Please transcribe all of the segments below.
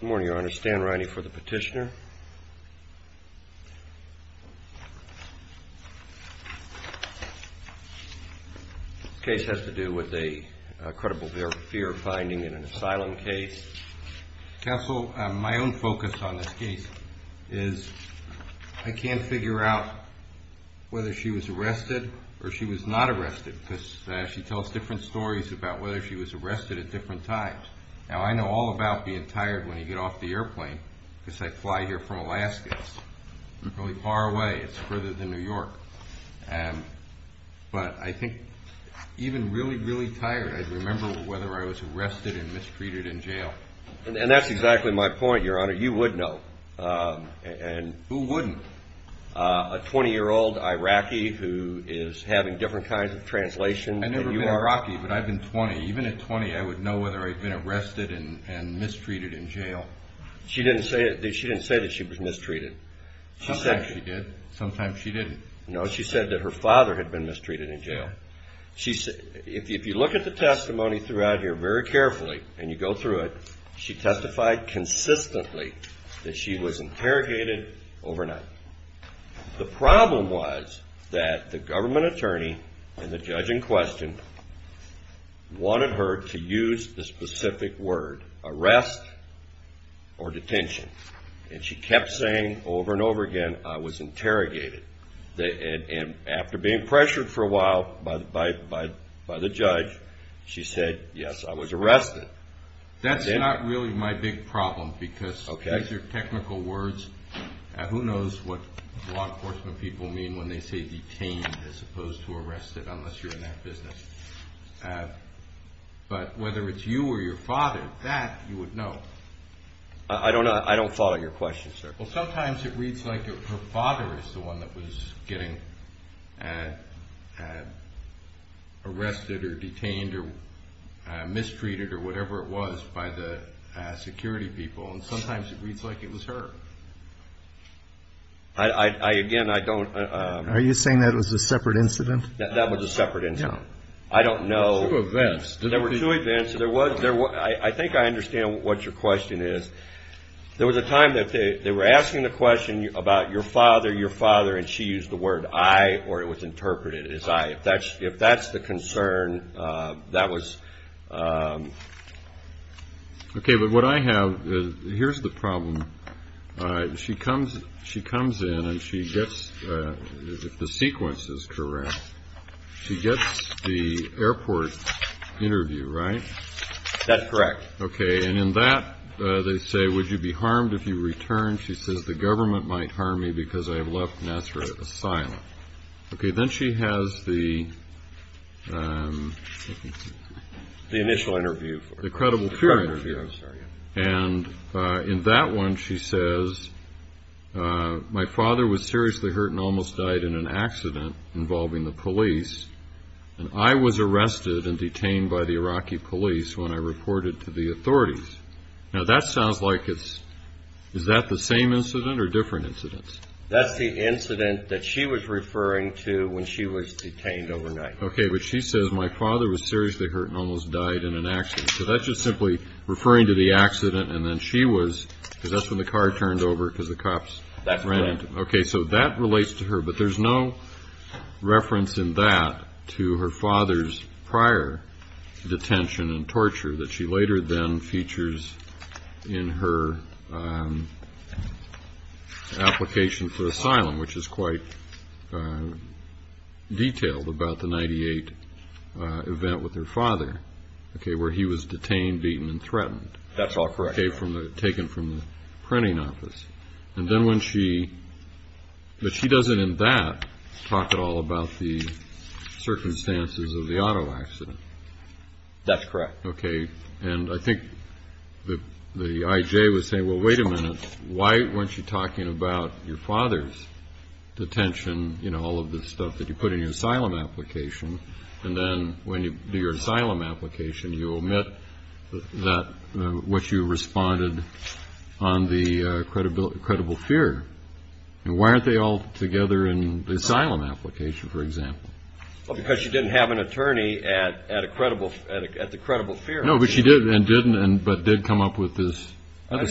Good morning, Your Honor. Stan Riney for the petitioner. This case has to do with a credible fear finding in an asylum case. Counsel, my own focus on this case is I can't figure out whether she was arrested or she was not arrested because she tells different stories about whether she was arrested at different times. Now, I know all about being tired when you get off the airplane, because I fly here from Alaska. It's really far away. It's further than New York. But I think even really, really tired, I remember whether I was arrested and mistreated in jail. And that's exactly my point, Your Honor. You would know. Who wouldn't? A 20-year-old Iraqi who is having different kinds of translations than you are. I'm an Iraqi, but I've been 20. Even at 20, I would know whether I'd been arrested and mistreated in jail. She didn't say that she was mistreated. Sometimes she did. Sometimes she didn't. No, she said that her father had been mistreated in jail. If you look at the testimony throughout here very carefully and you go through it, she testified consistently that she was interrogated overnight. The problem was that the government attorney and the judge in question wanted her to use the specific word, arrest or detention. And she kept saying over and over again, I was interrogated. And after being pressured for a while by the judge, she said, yes, I was arrested. That's not really my big problem because these are technical words. Who knows what law enforcement people mean when they say detained as opposed to arrested, unless you're in that business. But whether it's you or your father, that you would know. I don't follow your question, sir. Well, sometimes it reads like her father is the one that was getting arrested or detained or mistreated or whatever it was by the security people. And sometimes it reads like it was her. Are you saying that was a separate incident? That was a separate incident. I don't know. There were two events. There were two events. I think I understand what your question is. There was a time that they were asking the question about your father, your father, and she used the word I or it was I. And that's the concern that was. OK, but what I have. Here's the problem. She comes she comes in and she gets the sequence is correct. She gets the airport interview, right? That's correct. OK. And in that they say, would you be harmed if you return? She says the government might harm me because I have left Nasser a silent. OK, then she has the the initial interview, the credible period. And in that one, she says, my father was seriously hurt and almost died in an accident involving the police. And I was arrested and detained by the Iraqi police. Now, that sounds like it's is that the same incident or different incidents? That's the incident that she was referring to when she was detained overnight. OK, but she says my father was seriously hurt and almost died in an accident. So that's just simply referring to the accident. And then she was because that's when the car turned over because the cops that's right. OK, so that relates to her. But there's no reference in that to her father's prior detention and torture that she later then features in her application for asylum, which is quite detailed about the 98 event with her father, OK, where he was detained, beaten and threatened. That's all correct. OK, from the taken from the printing office. And then when she but she doesn't in that talk at all about the circumstances of the auto accident. That's correct. OK. And I think that the IJ was saying, well, wait a minute. Why weren't you talking about your father's detention, you know, all of the stuff that you put in your asylum application? And then when you do your asylum application, you omit that what you responded on the credibility of a credible fear. And why aren't they all together in the asylum application, for example? Because she didn't have an attorney at at a credible at the credible fear. No, but she did and didn't. And but did come up with this.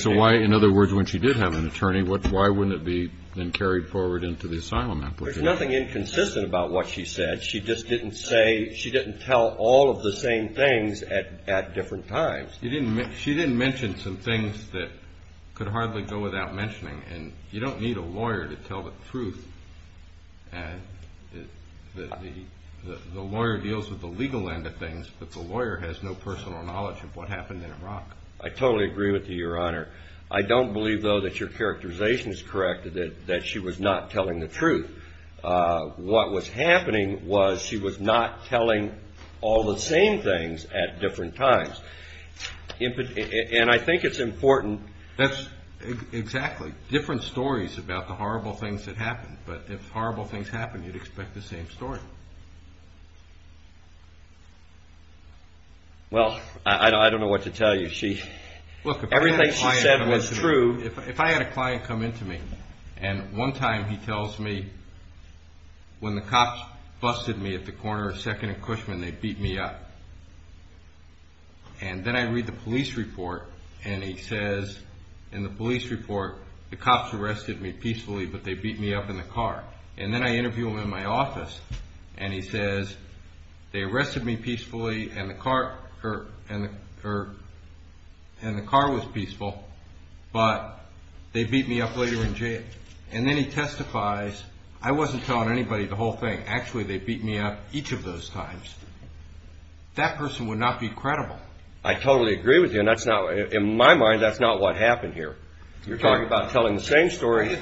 So why, in other words, when she did have an attorney, what why wouldn't it be then carried forward into the asylum application? Nothing inconsistent about what she said. She just didn't say she didn't tell all of the same things at at different times. You didn't she didn't mention some things that could hardly go without mentioning. And you don't need a lawyer to tell the truth. And the lawyer deals with the legal end of things. But the lawyer has no personal knowledge of what happened in Iraq. I totally agree with you, Your Honor. I don't believe, though, that your characterization is correct, that that she was not telling the truth. What was happening was she was not telling all the same things at different times. And I think it's important. That's exactly different stories about the horrible things that happened. But if horrible things happened, you'd expect the same story. Well, I don't know what to tell you. She looked at everything she said was true. If I had a client come in to me and one time he tells me when the cops busted me at the corner of 2nd and Cushman, they beat me up. And then I read the police report and he says in the police report, the cops arrested me peacefully, but they beat me up in the car. And then I interview him in my office and he says they arrested me peacefully and the car was peaceful, but they beat me up later in jail. And then he testifies. I wasn't telling anybody the whole thing. Actually, they beat me up each of those times. That person would not be credible. I totally agree with you. In my mind, that's not what happened here. You're talking about telling the same story.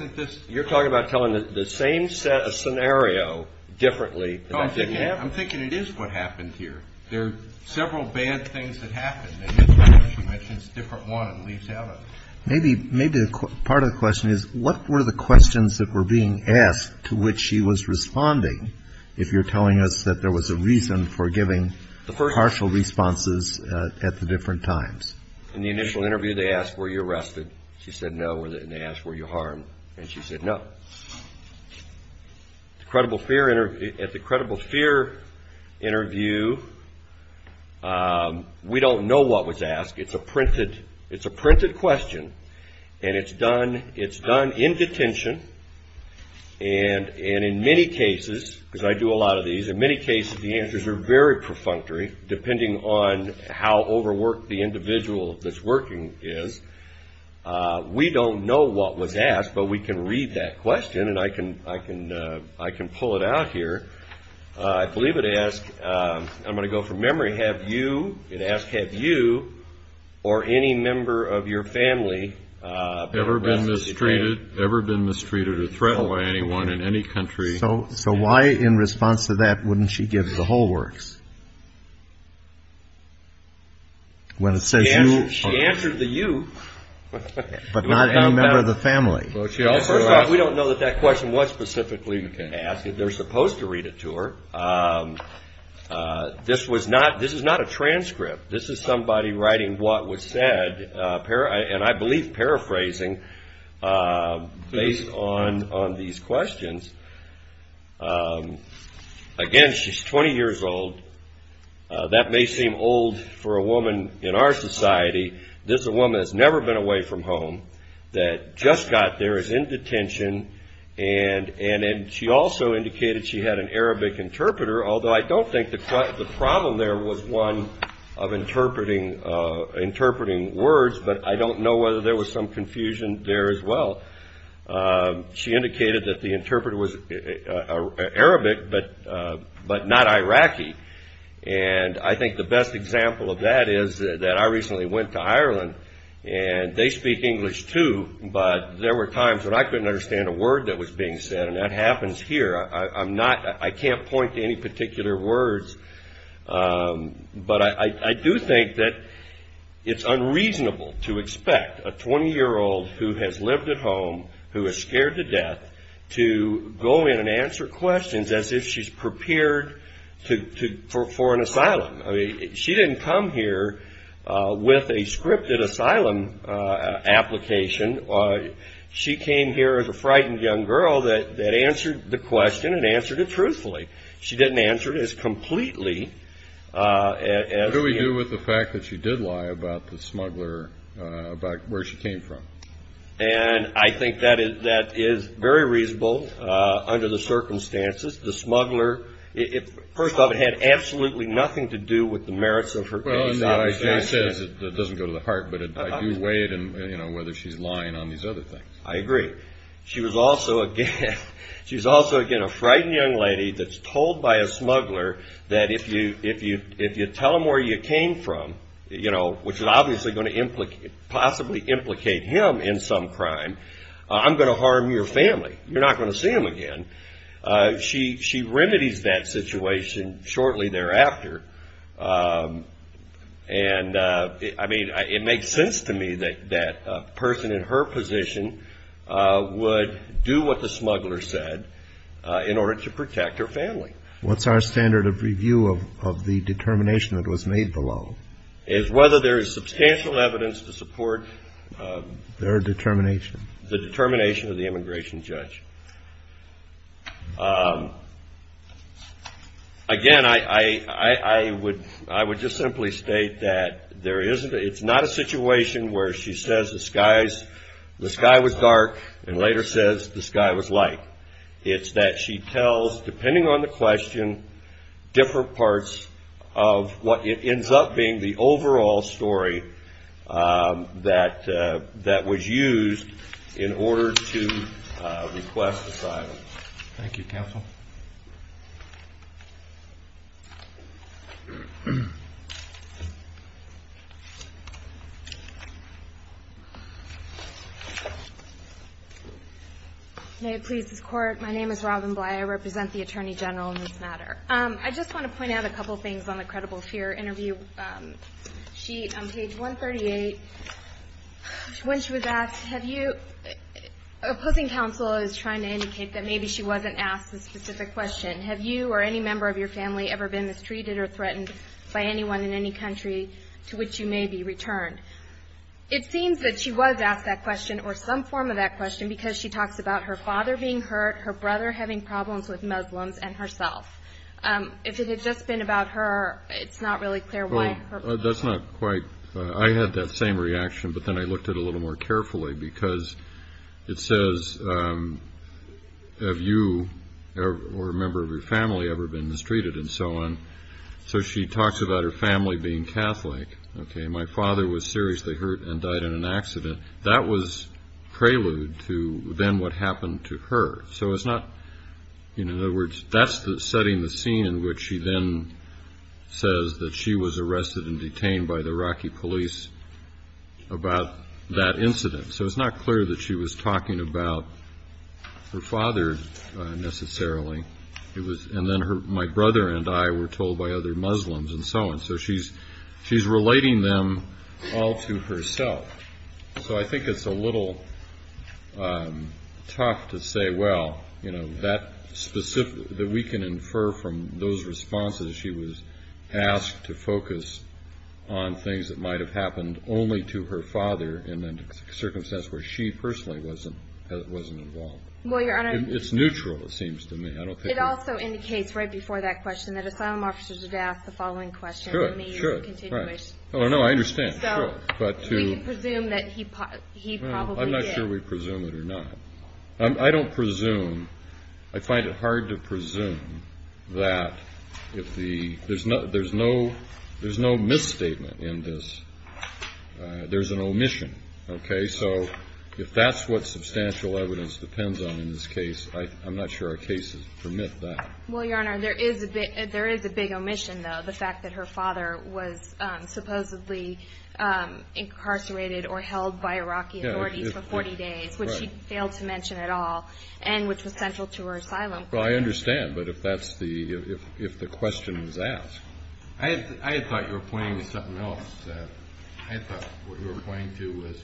You're talking about telling the same scenario differently. I'm thinking it is what happened here. There are several bad things that happened. And this one, as you mentioned, is a different one. Maybe part of the question is, what were the questions that were being asked to which she was responding if you're telling us that there was a reason for giving partial responses at the different times? In the initial interview, they asked, were you arrested? She said no. And they asked, were you harmed? And she said no. At the credible fear interview, we don't know what was asked. It's a printed question and it's done in detention. And in many cases, because I do a lot of these, the answers are very perfunctory depending on how overworked the individual that's working is. We don't know what was asked, but we can read that question and I can pull it out here. I believe it asks, I'm going to go from memory, it asks, have you or any member of your family ever been mistreated or threatened by anyone in any country? So why in response to that wouldn't she give the whole works? She answered the you. But not any member of the family. First off, we don't know what that question was specifically asked. They're supposed to read it to her. This is not a transcript. This is somebody writing what was said, and I believe paraphrasing based on these questions. Again, she's 20 years old. That may seem old for a woman in our society. This is a woman that's never been away from home, that just got there, is in detention, and she also indicated she had an Arabic interpreter, although I don't think the problem there was one of interpreting words, but I don't know whether there was some confusion there as well. She indicated that the interpreter was Arabic, but not Iraqi. And I think the best example of that is that I recently went to Ireland, and they speak English too, but there were times when I couldn't understand a word that was being said, and that happens here. I'm not, I can't point to any particular words, but I do think that it's unreasonable to expect a 20-year-old who has lived at home, who is scared to death, to go in and answer questions as if she's prepared for an asylum. I mean, she didn't come here with a scripted asylum application. She came here as a frightened young girl that answered the question and answered it truthfully. She didn't answer it as completely as... What do we do with the fact that she did lie about the smuggler, about where she came from? And I think that is very reasonable under the circumstances. The smuggler, first of all, it had absolutely nothing to do with the merits of her case. Well, it doesn't go to the heart, but I do weigh in on whether she's lying on these other things. I agree. She was also, again, a frightened young lady that's told by a smuggler that if you tell him where you came from, which is obviously going to possibly implicate him in some crime, I'm going to harm your family. You're not going to see him again. She remedies that situation shortly thereafter. And, I mean, it makes sense to me that a person in her position would do what the smuggler said in order to protect her family. What's our standard of review of the determination that was made below? Is whether there is substantial evidence to support... Their determination. The determination of the immigration judge. Again, I would just simply state that it's not a situation where she says the sky was dark and later says the sky was light. It's that she tells, depending on the question, different parts of what ends up being the overall story that was used in order to request asylum. May it please this Court, my name is Robin Bly. I represent the Attorney General in this matter. I just want to point out a couple of things on the credible fear interview sheet on page 138. When she was asked, opposing counsel is trying to indicate that maybe she wasn't asked a specific question. Have you or any member of your family ever been mistreated or threatened by anyone in any country to which you may be returned? It seems that she was asked that question or some form of that question because she talks about her father being hurt, her brother having problems with Muslims, and herself. If it had just been about her, it's not really clear why. I had that same reaction, but then I looked at it a little more carefully because it says, have you or a member of your family ever been mistreated and so on. So she talks about her family being Catholic. That was prelude to then what happened to her. So it's not, in other words, that's setting the scene in which she then says that she was arrested and detained by the Iraqi police about that incident. So it's not clear that she was talking about her father necessarily. And then my brother and I were told by other Muslims and so on. So she's relating them all to herself. So I think it's a little tough to say, well, that we can infer from those responses she was asked to focus on things that might have happened only to her father in a circumstance where she personally wasn't involved. It's neutral, it seems to me. It also indicates right before that question that asylum officers are to ask the following question. I'm not sure we presume it or not. I don't presume, I find it hard to presume that if the, there's no misstatement in this, there's an omission. So if that's what substantial evidence depends on in this case, I'm not sure our cases permit that. Well, Your Honor, there is a big omission, though. The fact that her father was supposedly incarcerated or held by Iraqi authorities for 40 days, which she failed to mention at all, and which was central to her asylum. Well, I understand, but if that's the, if the question was asked. I had thought you were pointing to something else. I had thought what you were pointing to was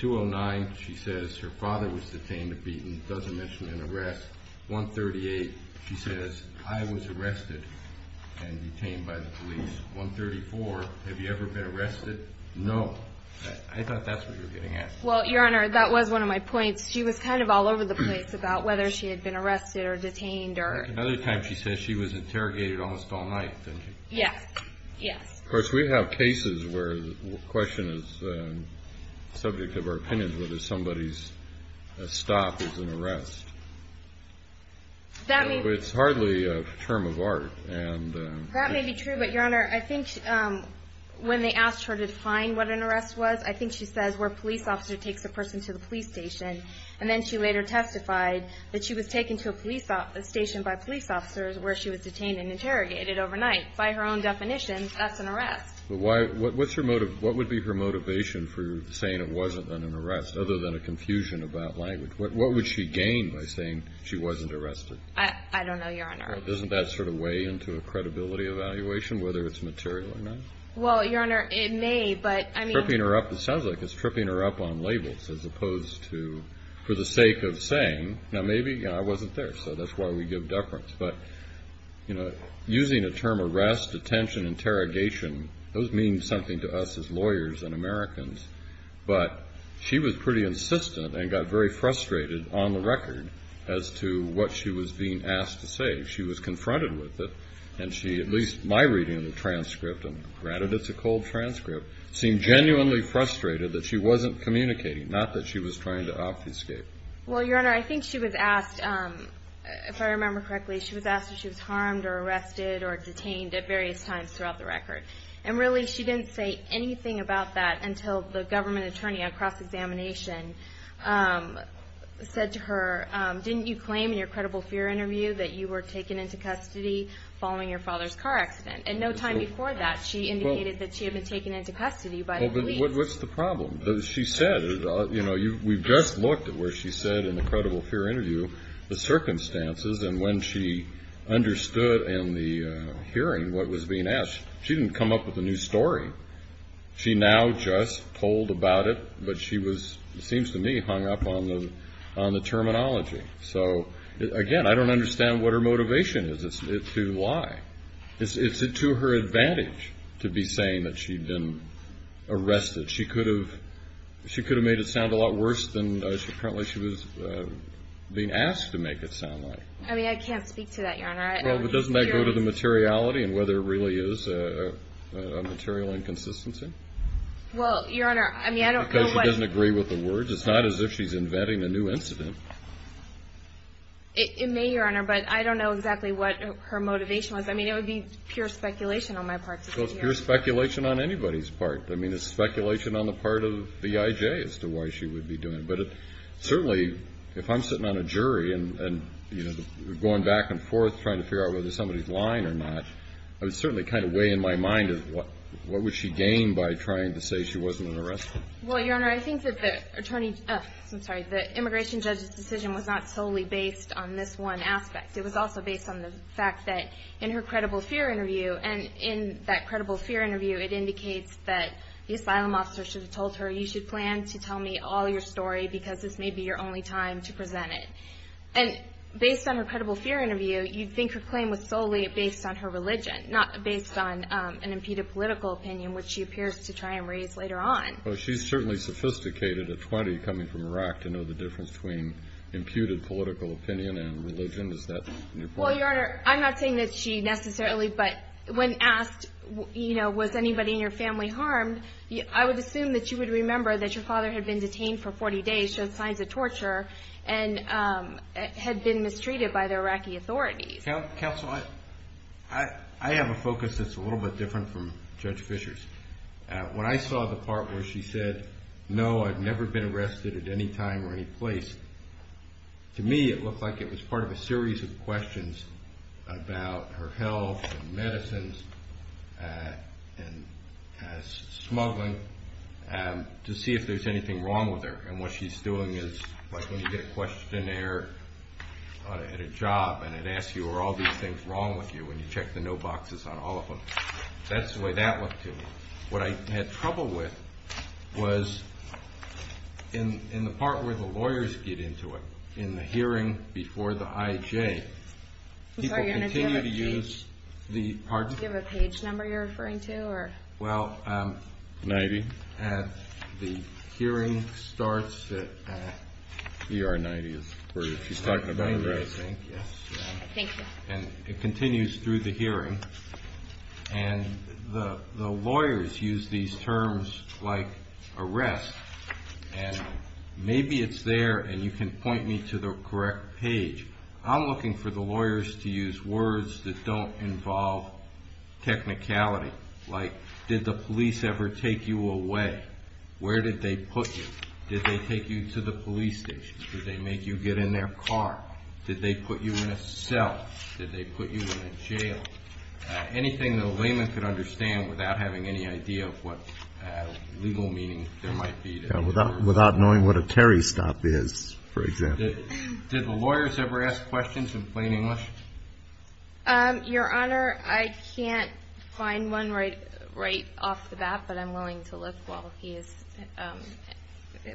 209, she says, her father was detained and beaten, doesn't mention an arrest. 138, she says, I was arrested and detained by the police. 134, have you ever been arrested? No. I thought that's what you were getting at. Well, Your Honor, that was one of my points. She was kind of all over the place about whether she had been arrested or detained. Another time she said she was interrogated almost all night. Of course, we have cases where the question is subject to our opinions whether somebody's stop is an arrest. It's hardly a term of art. That may be true, but Your Honor, I think when they asked her to define what an arrest was, I think she says where a police officer takes a person to the police station. And then she later testified that she was taken to a police station by police officers where she was detained and interrogated overnight. By her own definition, that's an arrest. What would be her motivation for saying it wasn't an arrest, other than a confusion about language? What would she gain by saying she wasn't arrested? I don't know, Your Honor. Doesn't that sort of weigh into a credibility evaluation, whether it's material or not? Well, Your Honor, it may, but I mean... Tripping her up, it sounds like it's tripping her up on labels as opposed to for the sake of saying, you know, maybe I wasn't there, so that's why we give deference. But, you know, using the term arrest, detention, interrogation, those mean something to us as lawyers and Americans. But she was pretty insistent and got very frustrated on the record as to what she was being asked to say. She was confronted with it, and she, at least my reading of the transcript, and granted it's a cold transcript, seemed genuinely frustrated that she wasn't communicating, not that she was trying to obfuscate. Well, Your Honor, I think she was asked, if I remember correctly, she was asked if she was harmed or arrested or detained at various times throughout the record. And really, she didn't say anything about that until the government attorney on cross-examination said to her, didn't you claim in your credible fear interview that you were taken into custody following your father's car accident? And no time before that, she indicated that she had been taken into custody by the police. Well, but what's the problem? She said, you know, we've just looked at where she said in the credible fear interview the circumstances, and when she understood in the hearing what was being asked, she didn't come up with a new story. She now just told about it, but she was, it seems to me, hung up on the terminology. So, again, I don't understand what her motivation is to lie. It's to her advantage to be saying that she'd been arrested. She could have made it sound a lot worse than apparently she was being asked to make it sound like. I mean, I can't speak to that, Your Honor. Well, but doesn't that go to the materiality and whether it really is a material inconsistency? Well, Your Honor, I mean, I don't know what. Because she doesn't agree with the words. It's not as if she's inventing a new incident. It may, Your Honor, but I don't know exactly what her motivation was. I mean, it would be pure speculation on my part to be here. Well, it's pure speculation on anybody's part. I mean, it's speculation on the part of the IJ as to why she would be doing it. But certainly, if I'm sitting on a jury and going back and forth trying to figure out whether somebody's lying or not, I would certainly kind of weigh in my mind of what would she gain by trying to say she wasn't an arrestee. Well, Your Honor, I think that the immigration judge's decision was not solely based on this one aspect. It was also based on the fact that in her credible fear interview, and in that credible fear interview, it indicates that the asylum officer should have told her, you should plan to tell me all your story because this may be your only time to present it. And based on her credible fear interview, you'd think her claim was solely based on her religion, not based on an imputed political opinion, which she appears to try and raise later on. Well, she's certainly sophisticated at 20, coming from Iraq, to know the difference between imputed political opinion and religion. Is that your point? Well, Your Honor, I'm not saying that she necessarily, but when asked, you know, was anybody in your family harmed, I would assume that you would remember that your father had been detained for 40 days, showed signs of torture, and had been mistreated by the Iraqi authorities. Counsel, I have a focus that's a little bit different from Judge Fisher's. When I saw the part where she said, no, I've never been arrested at any time or any place, to me it looked like it was part of a series of questions about her health, and medicines, and smuggling, to see if there's anything wrong with her. And what she's doing is, like when you get a questionnaire at a job, and it asks you, are all these things wrong with you, and you check the no boxes on all of them. That's the way that looked to me. What I had trouble with was in the part where the lawyers get into it, in the hearing before the IJ, people continue to use the part... Do you have a page number you're referring to? Well, the hearing starts at... And the lawyers use these terms like arrest, and maybe it's there, and you can point me to the correct page. I'm looking for the lawyers to use words that don't involve technicality, like did the police ever take you away? Where did they put you? Did they take you to the police station? Did they make you get in their car? Did they put you in a cell? Did they put you in a jail? Anything that a layman could understand without having any idea of what legal meaning there might be to it. Without knowing what a carry stop is, for example. Did the lawyers ever ask questions in plain English? Your Honor, I can't find one right off the bat, but I'm willing to look while he is...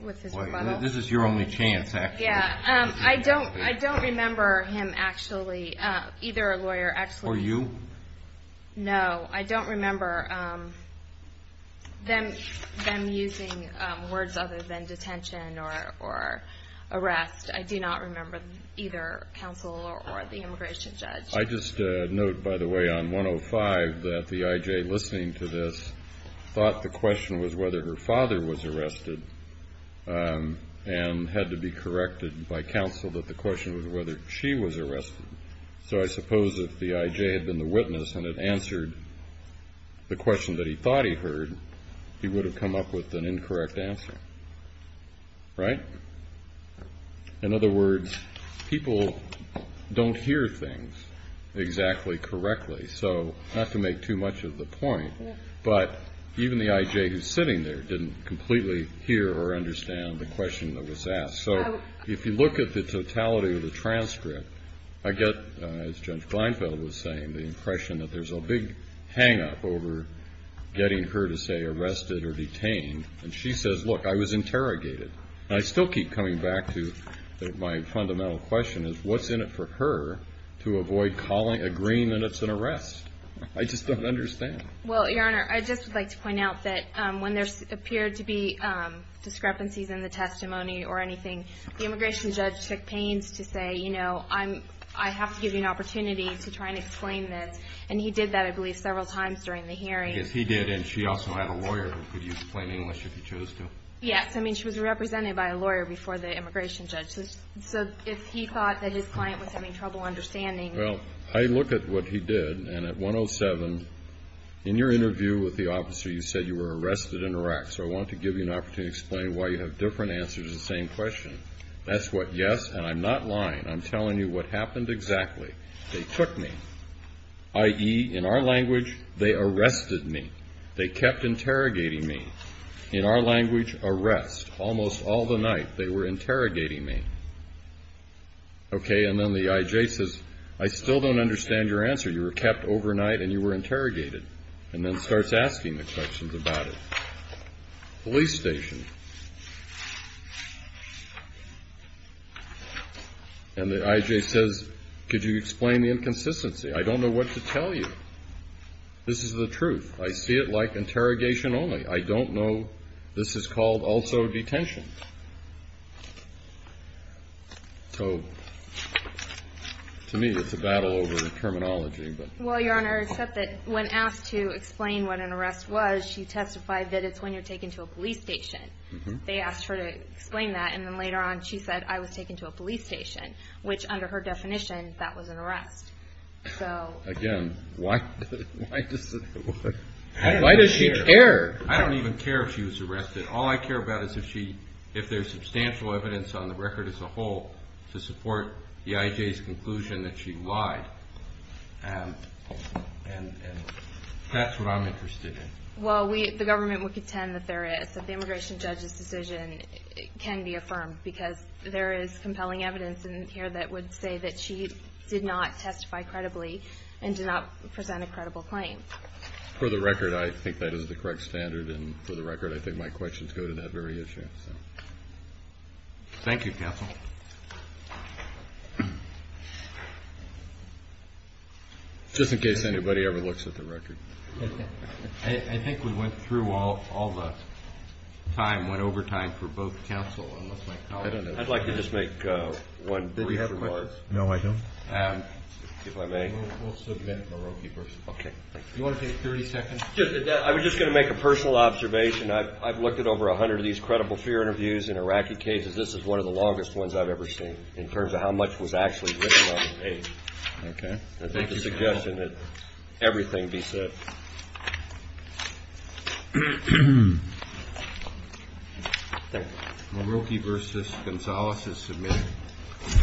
This is your only chance, actually. I don't remember him actually, either a lawyer actually... Or you? No, I don't remember them using words other than detention or arrest. I do not remember either counsel or the immigration judge. I just note, by the way, on 105 that the I.J. listening to this thought the question was whether her father was arrested and had to be corrected by counsel that the question was whether she was arrested. So I suppose if the I.J. had been the witness and had answered the question that he thought he heard, he would have come up with an incorrect answer. Right? In other words, people don't hear things exactly correctly. So not to make too much of the point, but even the I.J. who's sitting there didn't completely hear or understand the question that was asked. So if you look at the totality of the transcript, I get, as Judge Kleinfeld was saying, the impression that there's a big hangup over getting her to say arrested or detained. And she says, look, I was interrogated. And I still keep coming back to my fundamental question is what's in it for her to avoid agreeing that it's an arrest? I just don't understand. Well, Your Honor, I just would like to point out that when there appeared to be discrepancies in the testimony or anything, the immigration judge took pains to say, you know, I have to give you an opportunity to try and explain this. And he did that, I believe, several times during the hearing. Yes. I mean, she was represented by a lawyer before the immigration judge. Well, I look at what he did, and at 107, in your interview with the officer, you said you were arrested in Iraq. So I want to give you an opportunity to explain why you have different answers to the same question. That's what, yes, and I'm not lying. I'm telling you what happened exactly. They took me, i.e., in our language, they arrested me. They kept interrogating me. In our language, arrest. Almost all the night, they were interrogating me. Okay, and then the I.J. says, I still don't understand your answer. You were kept overnight, and you were interrogated, and then starts asking the questions about it. Police station. And the I.J. says, could you explain the inconsistency? I don't know what to tell you. This is the truth. I see it like interrogation only. I don't know. This is called also detention. So to me, it's a battle over the terminology. Well, Your Honor, except that when asked to explain what an arrest was, she testified that it's when you're taken to a police station. They asked her to explain that, and then later on, she said, I was taken to a police station, and I was arrested. Again, why does she care? I don't even care if she was arrested. All I care about is if there's substantial evidence on the record as a whole to support the I.J.'s conclusion that she lied. And that's what I'm interested in. Well, the government would contend that there is, that the immigration judge's decision can be affirmed, because there is compelling evidence in here that would say that she did not testify credibly and did not present a credible claim. For the record, I think that is the correct standard, and for the record, I think my questions go to that very issue. Thank you, counsel. Just in case anybody ever looks at the record. I think we went through all the time, went over time for both counsel. I'd like to just make one brief remark. No, I don't. If I may. Okay. I was just going to make a personal observation. I've looked at over 100 of these credible fear interviews in Iraqi cases. This is one of the longest ones I've ever seen in terms of how much was actually written on the page. Okay.